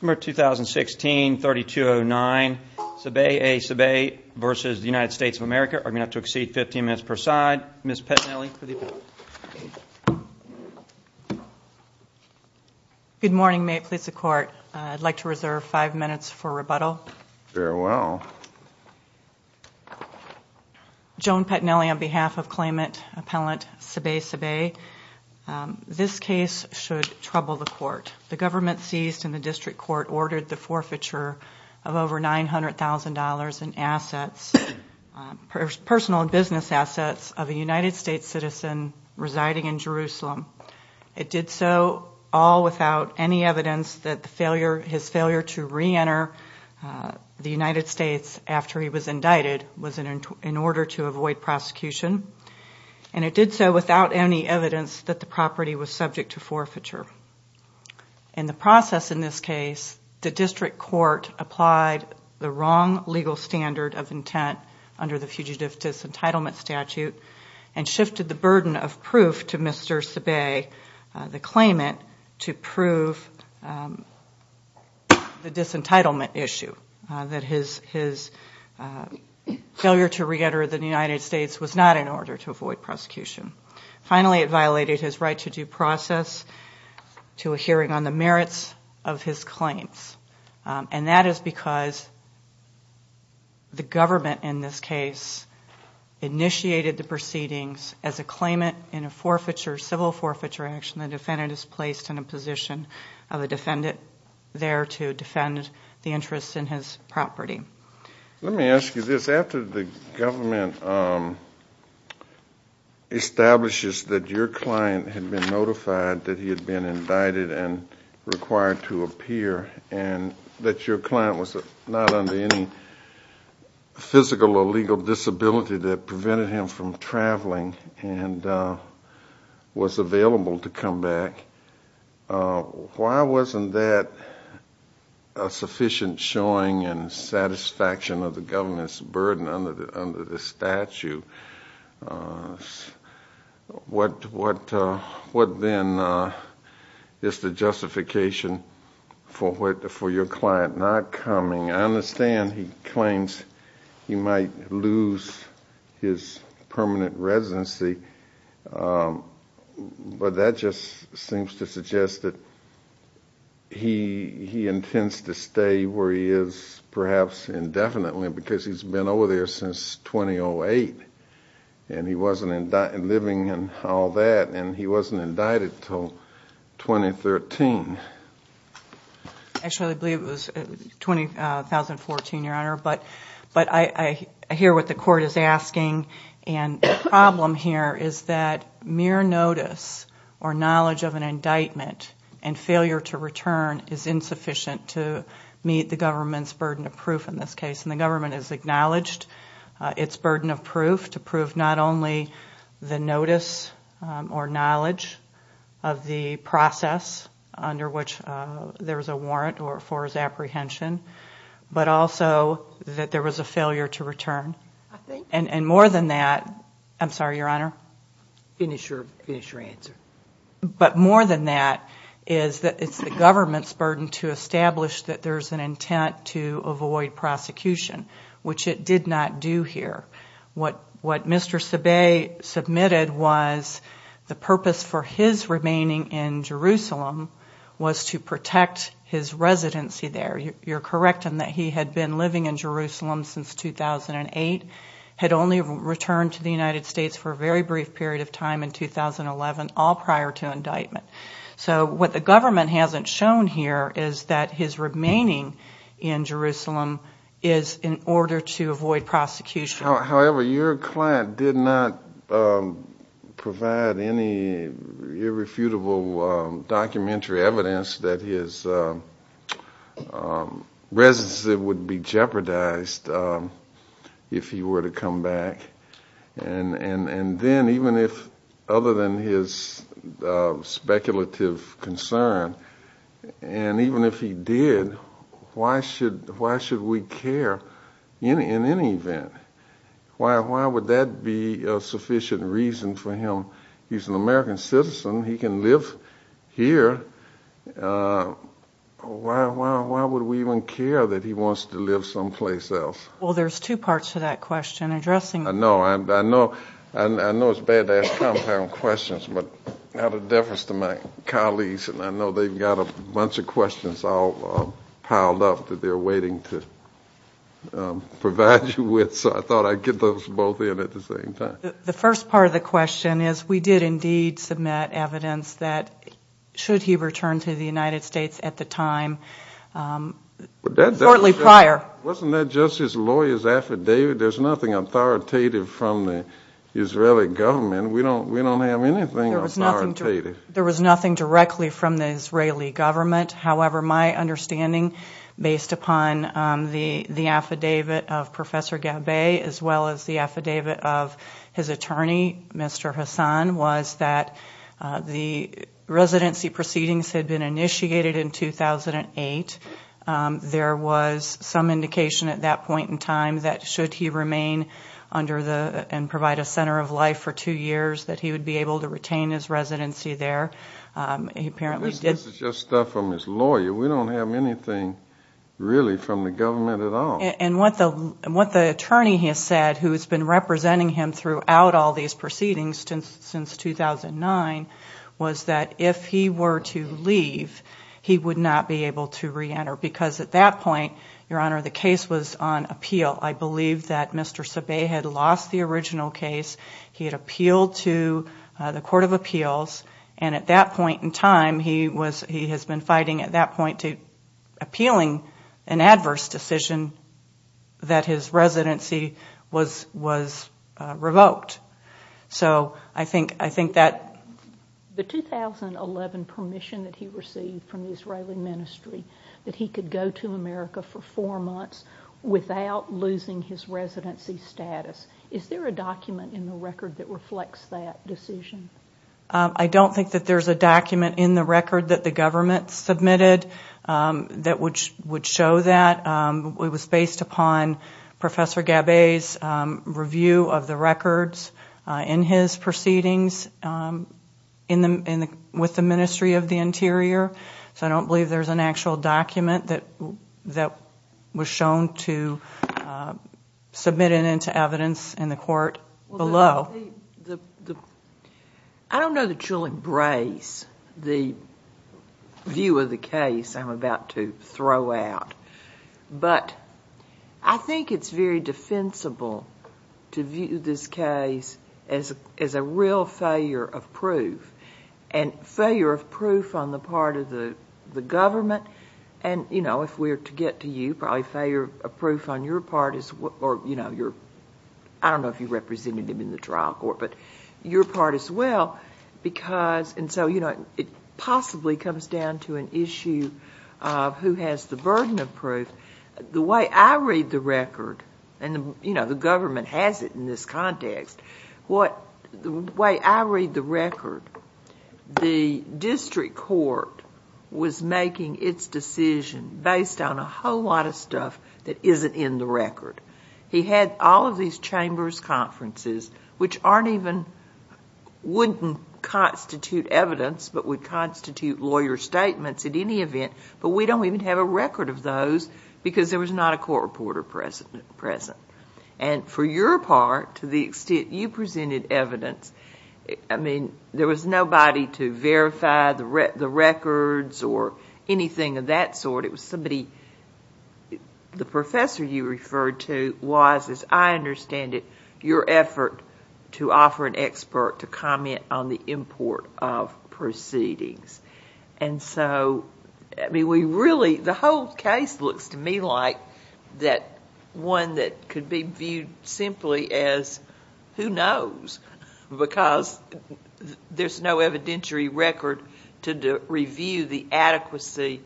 Summer 2016, 3209. Sbeih A Sbeih v. United States of America are going to have to exceed 15 minutes per side. Ms. Petinelli. Good morning. May it please the court, I'd like to reserve five minutes for rebuttal. Farewell. Joan Petinelli on behalf of claimant appellant Sbeih Sbeih. This case should trouble the court. The government seized in the district court ordered the forfeiture of over $900,000 in assets, personal and business assets, of a United States citizen residing in Jerusalem. It did so all without any evidence that his failure to re-enter the United States after he was indicted was in order to avoid prosecution. And it did so without any evidence that the property was subject to forfeiture. In the process in this case, the district court applied the wrong legal standard of intent under the Fugitive Disentitlement Statute and shifted the burden of proof to Mr. Sbeih, the claimant, to prove the disentitlement issue, that his failure to re-enter the United States was not in order to avoid prosecution. Finally, it violated his right to due process to a hearing on the merits of his claims. And that is because the government in this case initiated the proceedings as a claimant in a forfeiture, civil forfeiture action, the defendant is placed in a position of a defendant there to defend the interests in his property. Let me ask you this, after the government establishes that your client had been notified that he had been indicted and required to appear and that your client was not under any physical or legal disability that prevented him from traveling and was available to come back, why wasn't that a sufficient showing and satisfaction of the burden under the statute? What then is the justification for your client not coming? I understand he claims he might lose his permanent residency, but that just seems to suggest that he intends to stay where he is perhaps indefinitely because he's been over there since 2008 and he wasn't living and all that and he wasn't indicted until 2013. Actually, I believe it was 2014, Your Honor, but I hear what the court is asking and the problem here is that mere notice or knowledge of an indictment and failure to return is insufficient to meet the government's burden of proof in this case and the government has acknowledged its burden of proof to prove not only the notice or knowledge of the process under which there was a warrant or for his apprehension, but also that there was a failure to return. And more than that, I'm sorry, Your Honor? Finish your answer. But more than that is that it's the government's burden to establish that there's an intent to avoid prosecution, which it did not do here. What Mr. Sebae submitted was the purpose for his remaining in Jerusalem was to protect his residency there. You're correct in that he had been living in Jerusalem since 2008, had only returned to the United States for a very brief period of time in 2011, all prior to indictment. So what the government hasn't shown here is that his remaining in Jerusalem is in order to avoid prosecution. However, your client did not provide any irrefutable documentary evidence that his residency would be jeopardized if he were to come back and then even if, other than his speculative concern, and even if he did, why should we care in any event? Why would that be a sufficient reason for him? He's an American citizen. He can live here. Why would we even care that he wants to live someplace else? Well, there's two parts to that question. I know it's bad to ask compound questions, but out of deference to my colleagues, and I know they've got a bunch of questions all piled up that they're waiting to provide you with, so I thought I'd get those both in at the same time. The first part of the question is we did indeed submit evidence that should he return to the United States at the time, shortly prior. Wasn't that just his lawyer's affidavit? There's nothing authoritative from the Israeli government. We don't have anything authoritative. There was nothing directly from the Israeli government. However, my understanding, based upon the the affidavit of Professor Gabay, as well as the affidavit of his attorney, Mr. Hassan, was that the residency proceedings had been initiated in 2008. There was some indication at that point in time that should he remain under the and provide a center of life for two years, that he would be able to retain his residency there. He apparently did. This is just stuff from his lawyer. We don't have anything really from the government at all. And what the attorney has said, who has been representing him throughout all these proceedings since 2009, was that if he were to leave, he would not be able to re-enter because at that point, Your Honor, the case was on appeal. I believe that Mr. Sabay had lost the original case. He had appealed to the Court of Appeals and at that point in time, he has been fighting at that point to appealing an adverse decision that his residency was revoked. So I think that... The 2011 permission that he received from the Israeli Ministry that he could go to America for four months without losing his residency status, is there a document in the record that reflects that decision? I don't think that there's a document in the record that the government submitted that would show that. It was based upon Professor Gabay's review of the records in his proceedings with the Ministry of the Interior. So I don't believe there's an actual document that was shown to submit it into evidence in the court below. I don't know that you'll embrace the view of the case I'm about to throw out, but I think it's very defensible to view this case as a real failure of proof and failure of proof on the part of the government and you know, if we're to get to you, probably failure of proof on your part is... I don't know if you represented him in the trial court, but your possibly comes down to an issue of who has the burden of proof. The way I read the record, and you know, the government has it in this context, the way I read the record, the district court was making its decision based on a whole lot of stuff that isn't in the record. He had all of these chambers conferences which aren't even... wouldn't constitute evidence, but would constitute lawyer statements at any event, but we don't even have a record of those because there was not a court reporter present. And for your part, to the extent you presented evidence, I mean, there was nobody to verify the records or anything of that sort. It was somebody... the professor you referred to was, as I understand it, your effort to offer an expert to comment on the import of proceedings. And so, I mean, we really... the whole case looks to me like that one that could be viewed simply as, who knows, because there's no evidentiary record to review the adequacy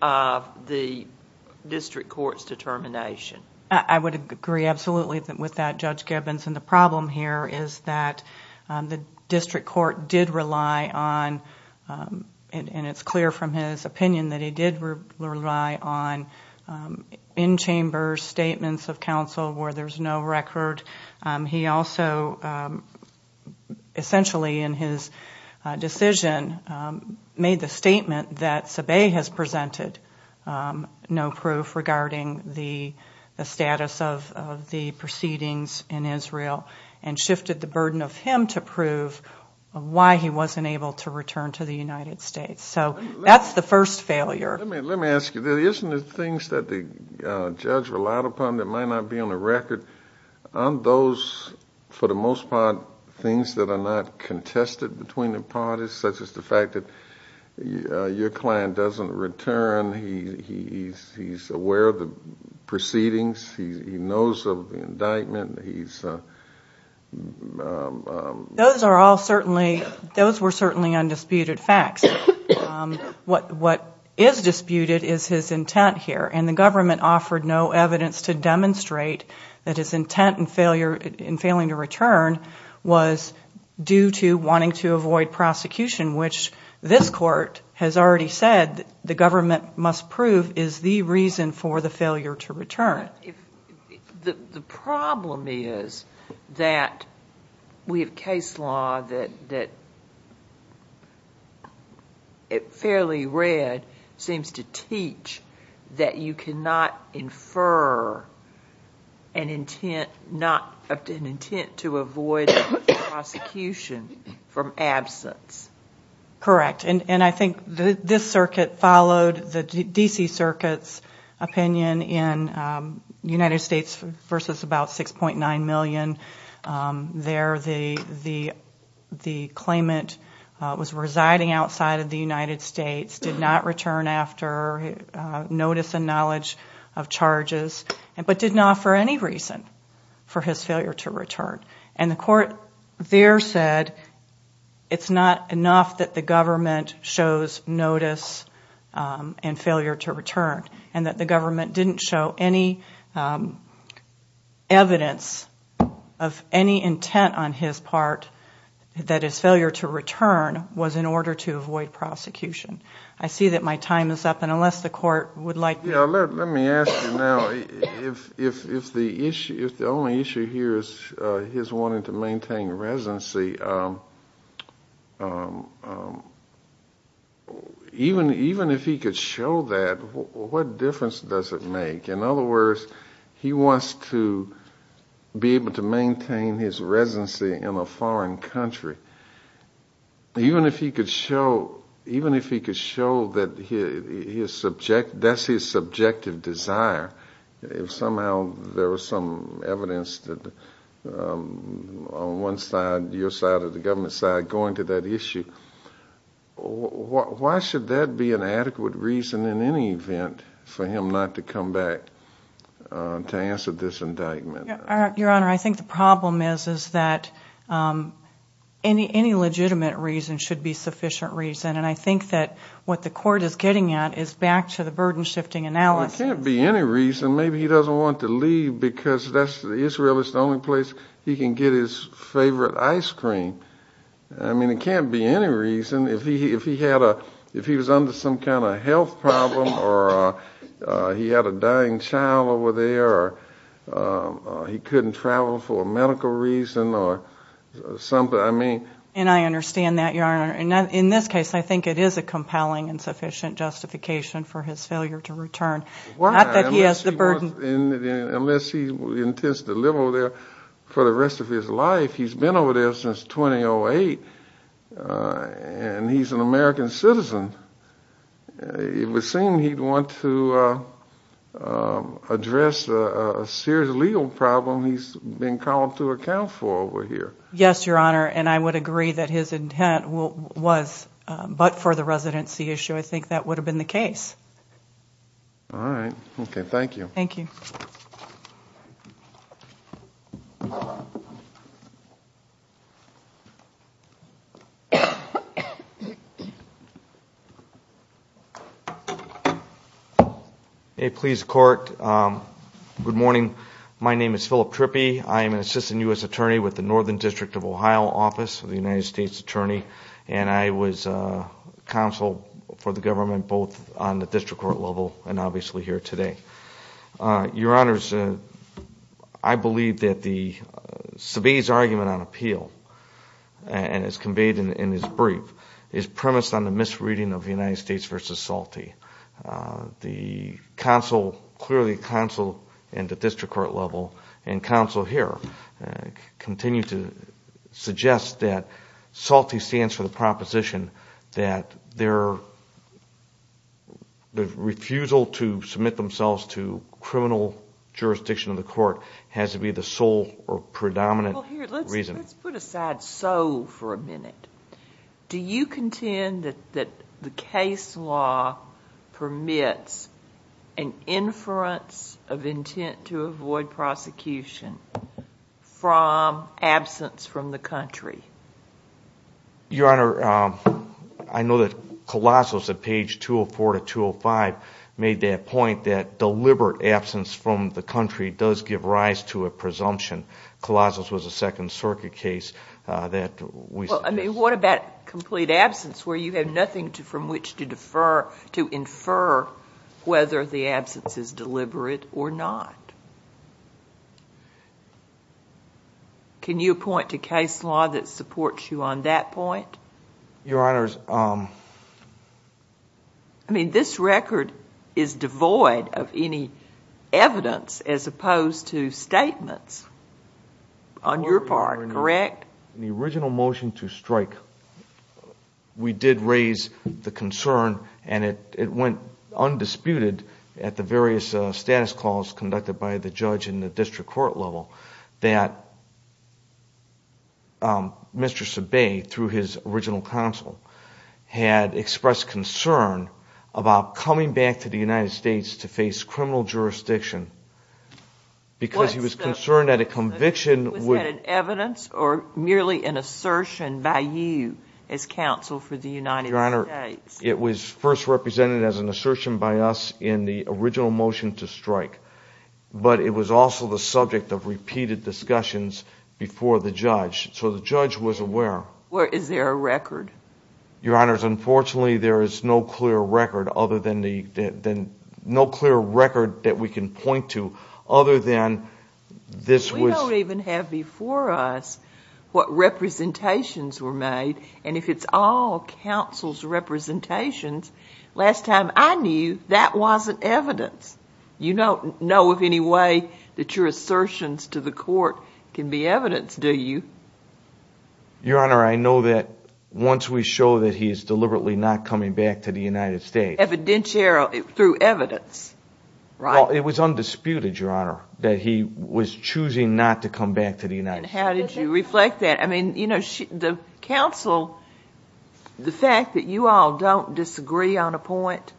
of the district court's determination. I would agree absolutely with that, Judge Gibbons, and the problem here is that the district court did rely on, and it's clear from his opinion, that he did rely on in-chambers statements of counsel where there's no record. He also, essentially, in his decision, made the statement that Sabe has presented no proof regarding the status of the proceedings in Israel and shifted the burden of him to prove why he wasn't able to return to the United States. So that's the first failure. Let me ask you, isn't it things that the judge relied upon that might not be on the record? Aren't those, for the most part, things that are not contested between the parties, such as the fact that your client doesn't return, he's aware of the proceedings, he knows of the indictment, he's... Those are all certainly... those were certainly undisputed facts. What is disputed is his intent here, and the government offered no evidence to demonstrate that his intent in failure... in failing to return was due to avoid prosecution, which this court has already said the government must prove is the reason for the failure to return. The problem is that we have case law that, fairly read, seems to teach that you cannot infer an intent not... an intent to avoid prosecution from absence. Correct, and I think this circuit followed the D.C. Circuit's opinion in United States versus about $6.9 million. There, the claimant was residing outside of the United States, did not return after notice and knowledge of charges, but did not, for any reason, for his failure to return. And the court there said it's not enough that the government shows notice and failure to return, and that the government didn't show any evidence of any intent on his part, that his failure to return was in order to avoid prosecution. I see that my time is up, and unless the court would like... Yeah, let me ask you now, if the only issue here is his wanting to maintain residency, even if he could show that, what difference does it make? In other words, in a foreign country, even if he could show, even if he could show that his subject... that's his subjective desire, if somehow there was some evidence that, on one side, your side, or the government's side, going to that issue, why should that be an adequate reason, in any event, for him not to come back to answer this indictment? Your Honor, I think the problem is that any legitimate reason should be sufficient reason. And I think that what the court is getting at is back to the burden shifting analysis. Well, it can't be any reason. Maybe he doesn't want to leave because Israel is the only place he can get his favorite ice cream. I mean, it can't be any reason. If he had a... if he was under some kind of health problem, or he had a dying child over there, or he couldn't travel for a medical reason, or something, I mean... And I understand that, Your Honor. In this case, I think it is a compelling and sufficient justification for his failure to return, not that he has the burden... Unless he intends to live over there for the rest of his life. He's been over there since 2008, and he's an American citizen. It would seem he'd want to address a serious legal problem he's being called to account for over here. Yes, Your Honor, and I would agree that his intent was but for the residency issue. I think that would have been the case. All right. Okay. Thank you. Thank you. Hey, please, court. Good morning. My name is Philip Trippi. I am an Assistant U.S. Attorney with the Northern District of Ohio Office of the United States Attorney, and I was counsel for the government, both on the district court level, and obviously here today. Your Honors, I believe that the Sebae's argument on appeal, as conveyed in his brief, is premised on the misreading of the United States v. Salte. The counsel, clearly the counsel in the district court level, and counsel here, continue to suggest that Salte stands for the proposition that the refusal to submit themselves to criminal jurisdiction of the court has to be the sole or predominant reason. Well, here, let's put aside sole for a minute. Do you contend that the case law permits an inference of intent to avoid prosecution from absence from the country? Your Honor, I know that Colossos, at page 204 to 205, made that point that deliberate absence from the country does give rise to a presumption. Colossos was a Second Circuit case that we suggest. Well, I mean, what about complete absence, where you have nothing from which to infer whether the absence is deliberate or not? Can you point to case law that supports you on that point? Your Honors, I mean, this record is devoid of any evidence, as opposed to statements, on your part, correct? In the original motion to strike, we did raise the concern, and it went undisputed at the various status calls conducted by the judge in the district court level, that Mr. Sabay, through his original counsel, had expressed concern about coming back to the United States to face criminal jurisdiction because he was concerned that a conviction would... It was merely an assertion by you as counsel for the United States. It was first represented as an assertion by us in the original motion to strike, but it was also the subject of repeated discussions before the judge, so the judge was aware. Is there a record? Your Honors, unfortunately, there is no clear record that we can point to other than this was... You don't even have before us what representations were made, and if it's all counsel's representations, last time I knew, that wasn't evidence. You don't know of any way that your assertions to the court can be evidence, do you? Your Honor, I know that once we show that he is deliberately not coming back to the United States... Through evidence, right? It was undisputed, Your Honor, that he was choosing not to come back to the United States. How did you reflect that? The counsel, the fact that you all don't disagree on a point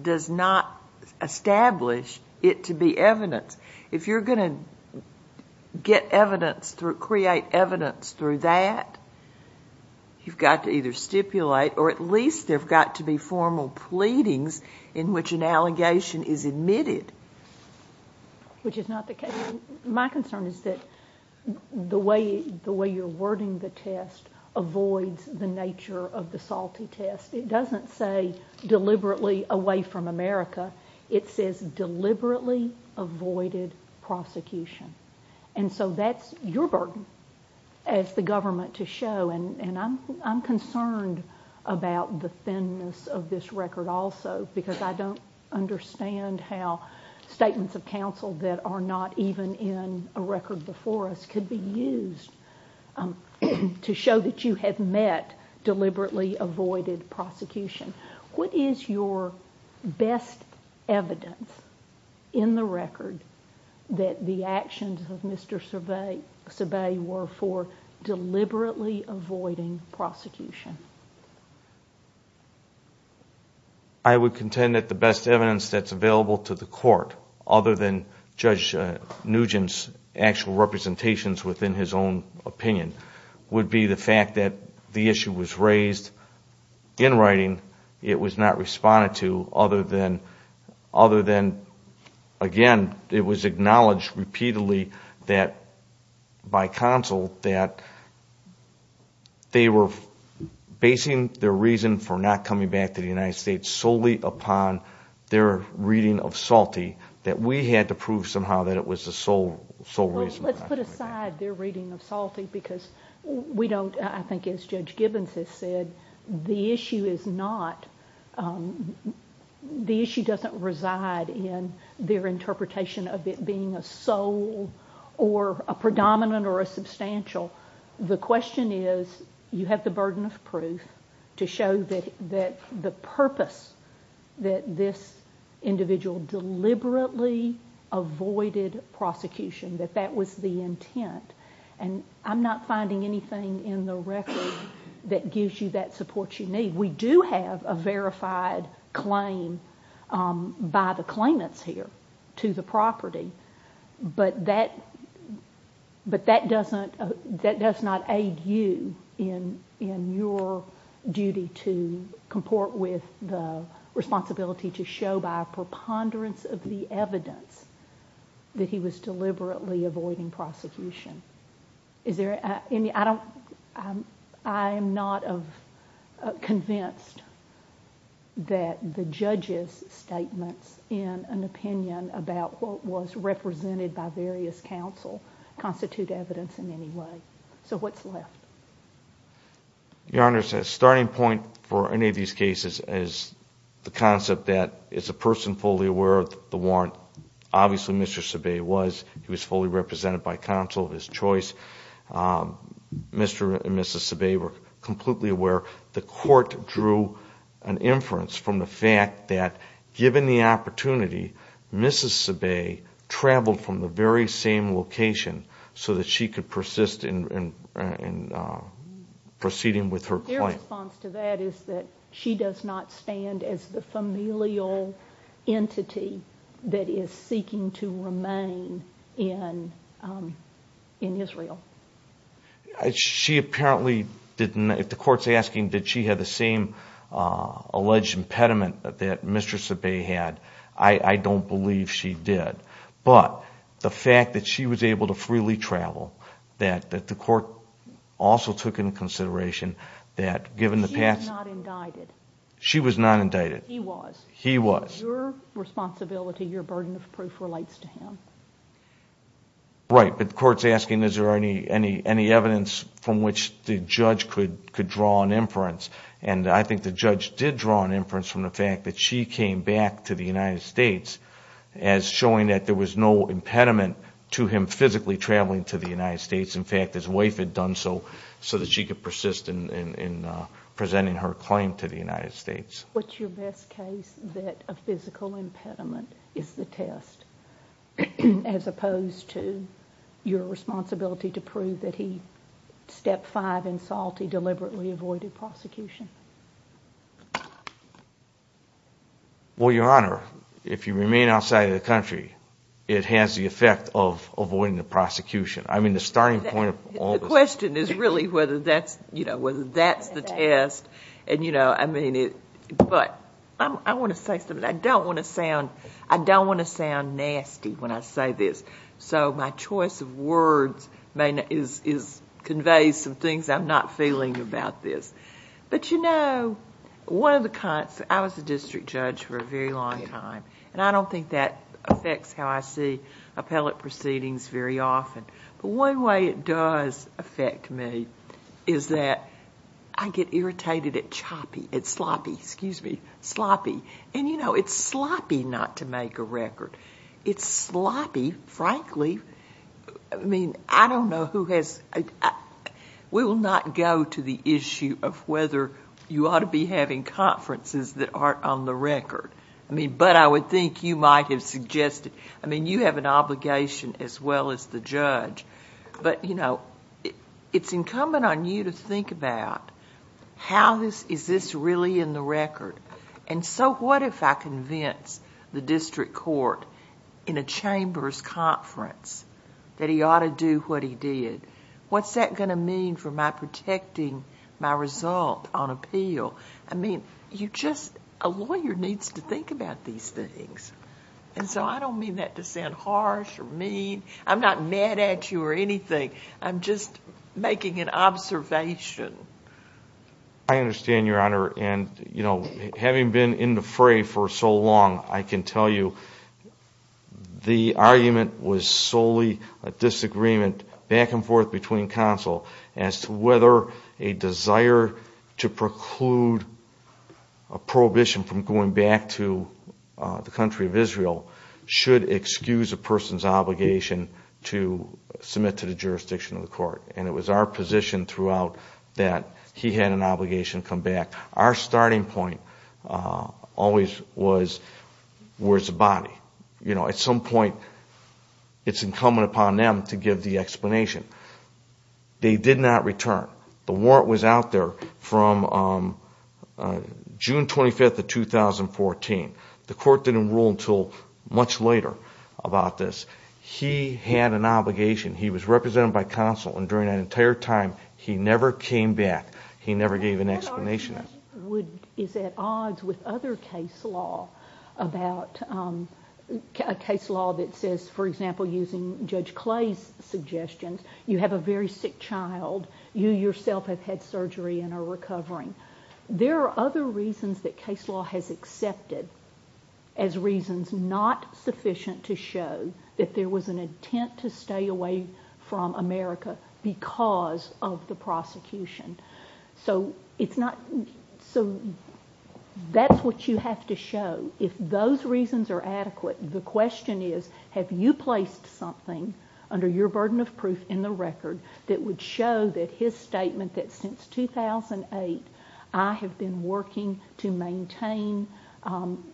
does not establish it to be evidence. If you're going to create evidence through that, you've got to either stipulate or at least there have got to be formal pleadings in which an is not the case. My concern is that the way you're wording the test avoids the nature of the salty test. It doesn't say deliberately away from America. It says deliberately avoided prosecution, and so that's your burden as the government to show, and I'm concerned about the thinness of this record also, because I don't understand how statements of counsel that are not even in a record before us could be used to show that you have met deliberately avoided prosecution. What is your best evidence in the record that the actions of Mr. Sebae were for deliberately avoiding prosecution? I would contend that the best evidence that's available to the court, other than Judge Nugent's actual representations within his own opinion, would be the fact that the issue was raised in writing, it was not responded to, other than, again, it was acknowledged repeatedly that by counsel that they were basing their reason for not coming back to the United States solely upon their reading of salty, that we had to prove somehow that it was the sole reason. Well, let's put aside their reading of salty because we don't, I think as Judge Gibbons has said, the issue is not, the issue doesn't reside in their interpretation of it being a sole or a predominant or a substantial. The question is, you have the burden of proof to show that the purpose that this individual deliberately avoided prosecution, that that was the intent, and I'm not finding anything in the record that gives you that support you need. We do have a verified claim by the claimants here to the property, but that does not aid you in your duty to comport with the responsibility to show by a preponderance of the evidence that he was deliberately avoiding prosecution. Is there any, I don't, I'm not convinced that the judge's statements in an opinion about what was represented by various counsel constitute evidence in any way. So what's left? Your Honor, a starting point for any of these cases is the concept that is a person fully aware of the warrant. Obviously Mr. Sebae was. He was fully represented by counsel of his choice. Mr. and Mrs. Sebae were completely aware. The court drew an inference from the fact that given the opportunity, Mrs. Sebae traveled from the very same location so that she could persist in proceeding with her claim. My response to that is that she does not stand as the familial entity that is seeking to remain in Israel. She apparently did not, if the court's asking did she have the same alleged impediment that Mr. Sebae had, I don't believe she did. But the fact that she was able to freely travel, that the court also took into consideration that given the past... She was not indicted. She was not indicted. He was. He was. Your responsibility, your burden of proof relates to him. Right, but the court's asking is there any evidence from which the judge could draw an inference and I think the judge did draw an inference from the fact that she came back to the United States as showing that there was no impediment to him physically traveling to the United States. In fact, his wife had done so, so that she could persist in presenting her claim to the United States. What's your best case that a physical impediment is the test as opposed to your responsibility to prove that he, step five in SALT, he deliberately avoided prosecution? Well, Your Honor, if you remain outside of the country, it has the effect of avoiding the prosecution. I mean, the starting point of all of this... The question is really whether that's the test and I mean, but I want to say something. I don't want to sound nasty when I say this, so my choice of words may convey some things I'm not feeling about this. But you know, one of the... I was a district judge for a very long time and I don't think that affects how I see appellate proceedings very often, but one way it does affect me is that I get irritated at choppy, at sloppy, excuse me, sloppy, and you know, it's sloppy not to make a record. It's sloppy, frankly, I mean, I don't know who has... we will not go to the issue of whether you ought to be having conferences that aren't on the record. But I would think you might have suggested... I mean, you have an obligation as well as the judge, but you know, it's incumbent on you to think about how is this really in the record and so what if I convince the district court in a chamber's conference that he ought to do what he did? What's that going to mean for my protecting my result on appeal? I mean, you just... a lawyer needs to think about these things. And so I don't mean that to sound harsh or mean. I'm not mad at you or anything. I'm just making an observation. I understand, Your Honor, and you know, having been in the fray for so long, I can tell you the argument was solely a disagreement back and forth between counsel as to whether a desire to preclude a prohibition from going back to the country of Israel should excuse a person's obligation to submit to the jurisdiction of the court. And it was our position throughout that he had an obligation to come back. Our starting point always was, where's the body? You know, at some point, it's incumbent upon them to give the explanation. They did not return. The warrant was out there from June 25th of 2014. The court didn't rule until much later about this. He had an obligation. He was represented by counsel and during that entire time, he never came back. He never gave an explanation. I wonder if that argument is at odds with other case law about, a case law that says, for example, using Judge Clay's suggestions, you have a very sick child, you yourself have had surgery and are recovering. There are other reasons that case law has accepted as reasons not sufficient to show that there was an intent to stay away from America because of the prosecution. So it's not ‑‑ so that's what you have to show. If those reasons are adequate, the question is, have you placed something under your burden of proof in the record that would show that his statement that since 2008, I have been working to maintain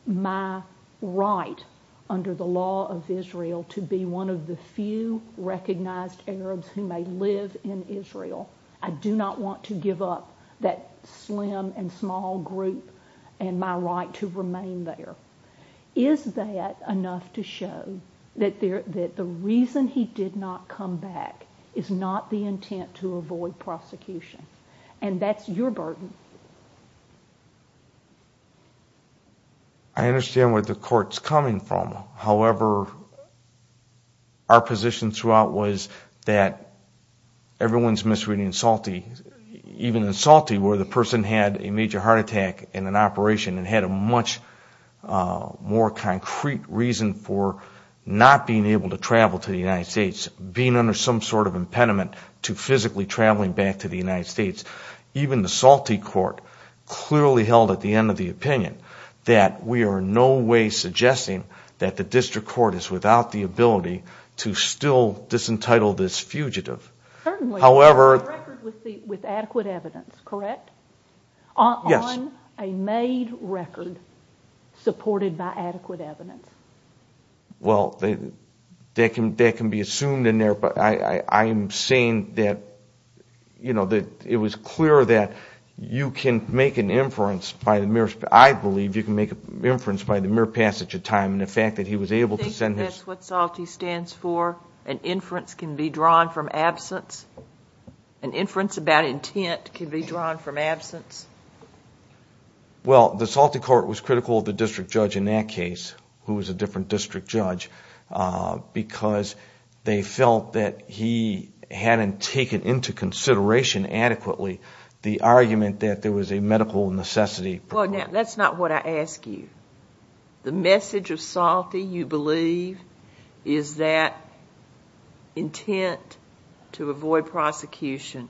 my right under the law of Israel to be one of the few recognized Arabs who may live in Israel, I do not want to give up that slim and small group and my right to remain there. Is that enough to show that the reason he did not come back is not the intent to avoid prosecution? And that's your burden. I understand where the court is coming from. However, our position throughout was that everyone is misreading Salty. Even in Salty, where the person had a major heart attack in an operation and had a much more concrete reason for not being able to travel to the United States, being under some sort of impediment to physically traveling back to the United States, even the Salty court clearly held at the end of the opinion that we are in no way suggesting that the district court is without the ability to still disentitle this fugitive. Certainly. However ‑‑ The record was with adequate evidence, correct? Yes. On a made record supported by adequate evidence. Well, that can be assumed in there, but I am saying that it was clear that you can make an inference, I believe you can make an inference by the mere passage of time and the fact that he was able to send his ‑‑ Do you think that's what Salty stands for, an inference can be drawn from absence? Well, the Salty court was critical of the district judge in that case, who was a different district judge, because they felt that he hadn't taken into consideration adequately the argument that there was a medical necessity. That's not what I ask you. The message of Salty, you believe, is that intent to avoid prosecution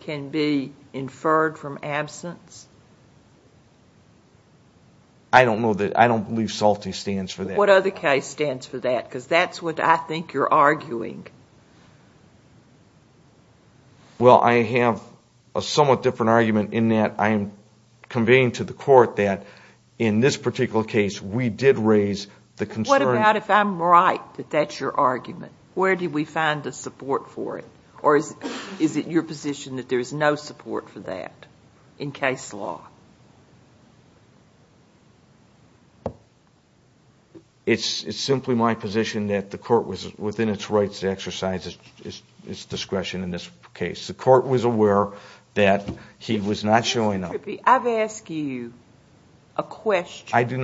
can be inferred from absence? I don't know that, I don't believe Salty stands for that. What other case stands for that, because that's what I think you're arguing. Well, I have a somewhat different argument in that I am conveying to the court that in this particular case we did raise the concern ‑‑ What about if I'm right, that that's your argument? Where did we find the support for it? Or is it your position that there is no support for that in case law? It's simply my position that the court was within its rights to exercise its discretion in this case. The court was aware that he was not showing up. I've asked you a question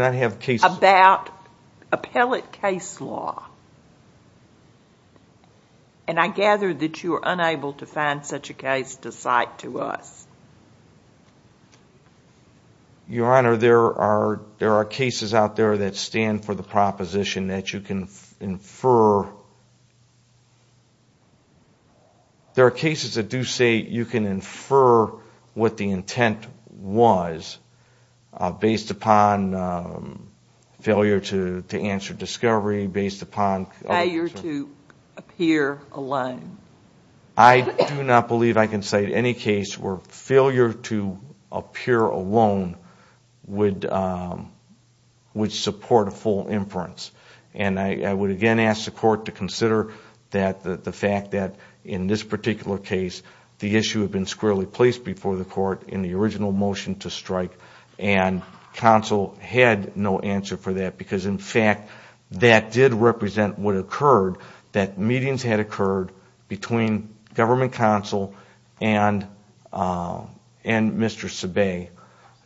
about appellate case law. I gather that you are unable to find such a case to cite to us. Your Honor, there are cases out there that stand for the proposition that you can infer. There are cases that do say you can infer what the intent was based upon failure to answer discovery, based upon ‑‑ Failure to appear alone. I do not believe I can cite any case where failure to appear alone would support a full inference. I would again ask the court to consider the fact that in this particular case the issue had been squarely placed before the court in the original motion to strike and counsel had no answer for that because in fact that did represent what occurred, that meetings had occurred between government counsel and Mr. Sebae,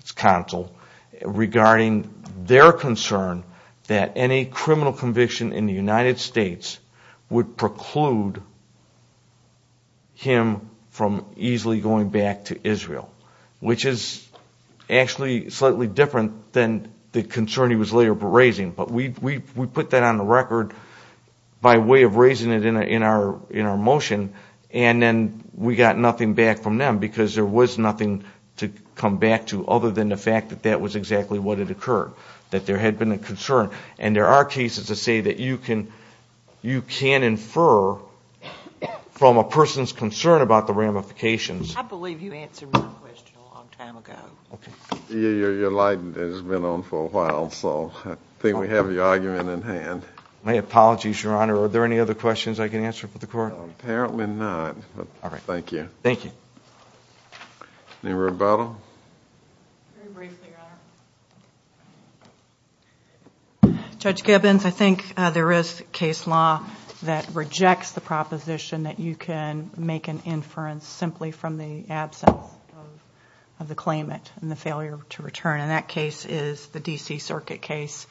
his counsel, regarding their concern that any criminal conviction in the United States would preclude him from easily going back to Israel, which is actually slightly different than the concern he was later raising. But we put that on the record by way of raising it in our motion and then we got nothing back from them because there was nothing to come back to other than the fact that that was exactly what had occurred, that there had been a concern. And there are cases that say that you can infer from a person's concern about the ramifications I believe you answered my question a long time ago. Your light has been on for a while, so I think we have your argument in hand. My apologies, Your Honor. Are there any other questions I can answer for the court? Apparently not, but thank you. Thank you. Any rebuttal? Very briefly, Your Honor. Judge Gibbons, I think there is case law that rejects the proposition that you can make an inference simply from the absence of the claimant and the failure to return. And that case is the D.C. Circuit case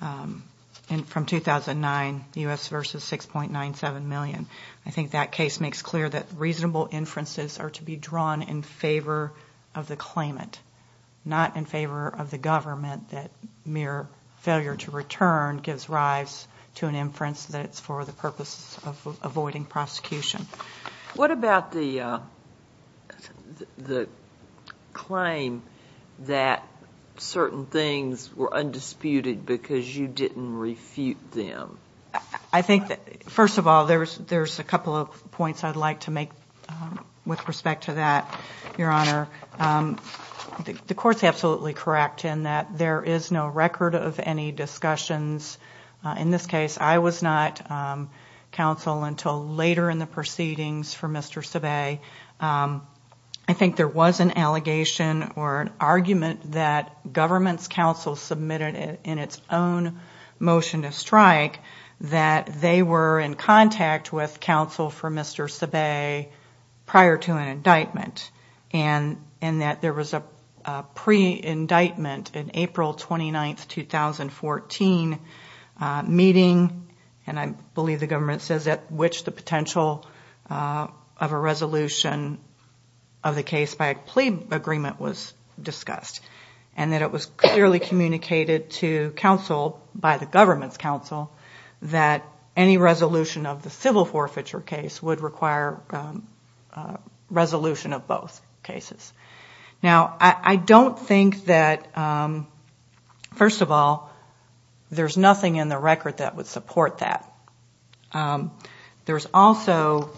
from 2009, U.S. v. 6.97 million. I think that case makes clear that reasonable inferences are to be drawn in favor of the claimant, not in favor of the government that mere failure to return gives rise to an inference that it's for the purpose of avoiding prosecution. What about the claim that certain things were undisputed because you didn't refute them? I think that, first of all, there's a couple of points I'd like to make with respect to that, Your Honor. The court's absolutely correct in that there is no record of any discussions. In this case, I was not counsel until later in the proceedings for Mr. Sebae. I think there was an allegation or an argument that government's counsel submitted in its own motion to strike that they were in contact with counsel for Mr. Sebae prior to an indictment and that there was a pre-indictment in April 29, 2014 meeting, and I believe the government says at which the potential of a resolution of the case by a plea agreement was discussed. And that it was clearly communicated to counsel by the government's counsel that any resolution of the civil forfeiture case would require resolution of both cases. Now I don't think that, first of all, there's nothing in the record that would support that. There's also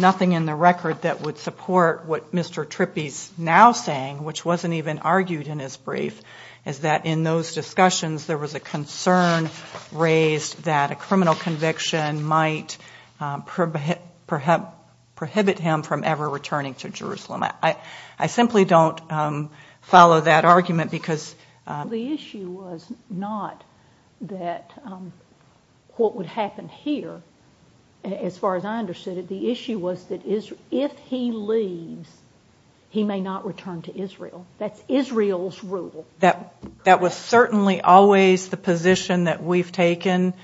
nothing in the record that would support what Mr. Trippi's now saying, which wasn't even argued in his brief, is that in those discussions there was a concern raised that a criminal conviction might prohibit him from ever returning to Jerusalem. I simply don't follow that argument because... The issue was not that what would happen here, as far as I understood it, the issue was that if he leaves, he may not return to Israel. That's Israel's rule. That was certainly always the position that we've taken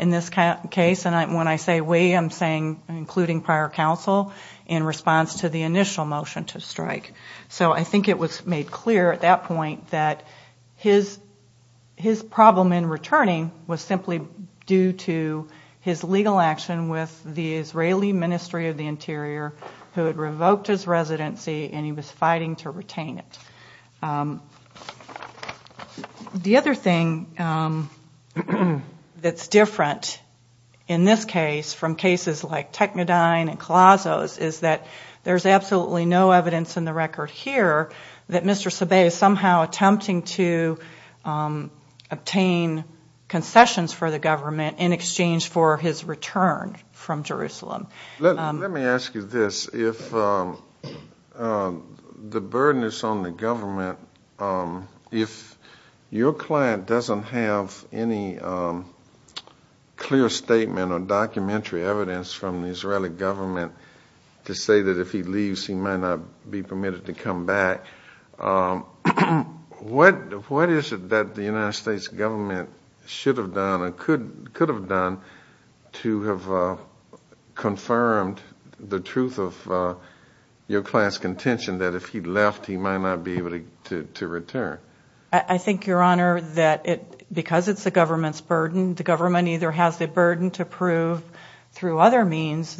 in this case, and when I say we, I'm saying including prior counsel in response to the initial motion to strike. So I think it was made clear at that point that his problem in returning was simply due to his legal action with the Israeli Ministry of the Interior, who had revoked his residency and he was fighting to retain it. The other thing that's different in this case from cases like Technodyne and Colossos is that there's absolutely no evidence in the record here that Mr. Sabay is somehow attempting to obtain concessions for the government in exchange for his return from Jerusalem. Let me ask you this. The burden is on the government. If your client doesn't have any clear statement or documentary evidence from the Israeli government to say that if he leaves he might not be permitted to come back, what is it that the United States government should have done or could have done to have confirmed the truth of your client's contention that if he left he might not be able to return? I think, Your Honor, that because it's the government's burden, the government either has the burden to prove through other means,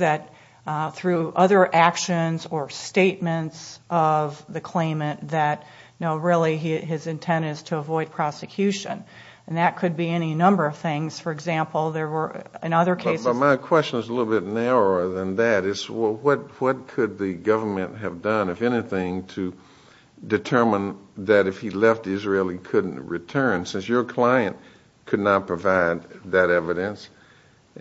through other actions or statements of the prosecution. That could be any number of things. For example, there were in other cases... My question is a little bit narrower than that. What could the government have done, if anything, to determine that if he left Israel he couldn't return, since your client could not provide that evidence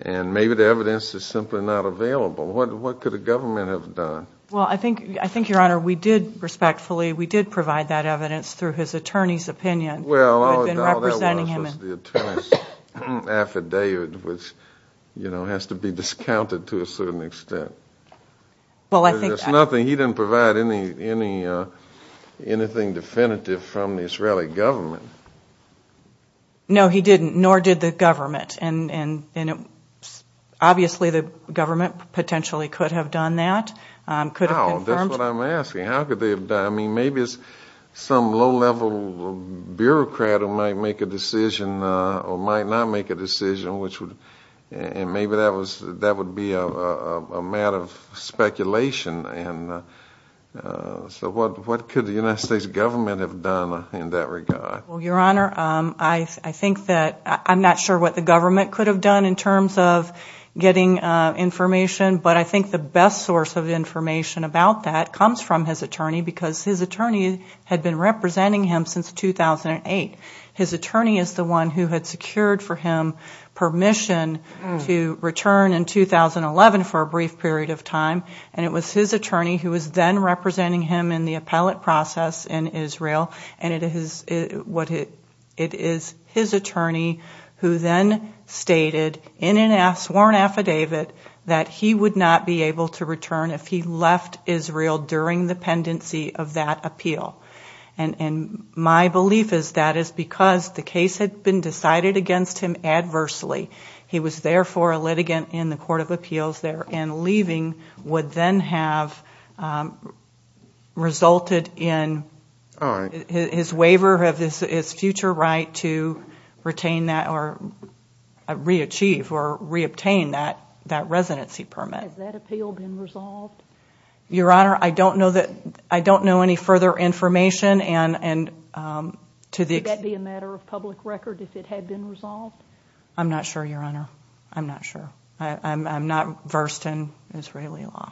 and maybe the evidence is simply not available. What could the government have done? I think, Your Honor, we did provide that evidence through his attorney's opinion. All that was was the attorney's affidavit, which has to be discounted to a certain extent. He didn't provide anything definitive from the Israeli government. No, he didn't, nor did the government. Obviously the government potentially could have done that, could have confirmed... That's what I'm asking. How could they have done that? Maybe it's some low-level bureaucrat who might make a decision or might not make a decision. Maybe that would be a matter of speculation. What could the United States government have done in that regard? Your Honor, I'm not sure what the government could have done in terms of getting information, but I think the best source of information about that comes from his attorney because his attorney had been representing him since 2008. His attorney is the one who had secured for him permission to return in 2011 for a brief period of time. It was his attorney who was then representing him in the appellate process in Israel. It is his attorney who then stated in a sworn affidavit that he would not be able to return if he left Israel during the pendency of that appeal. My belief is that is because the case had been decided against him adversely. He was therefore a litigant in the Court of Appeals there, and leaving would then have resulted in his waiver of his future right to retain that or re-achieve or re-obtain that residency permit. Has that appeal been resolved? Your Honor, I don't know any further information. Would that be a matter of public record if it had been resolved? I'm not sure, Your Honor. I'm not sure. I'm not versed in Israeli law.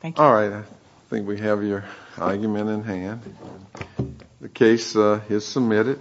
Thank you. All right. I think we have your argument in hand. The case is submitted.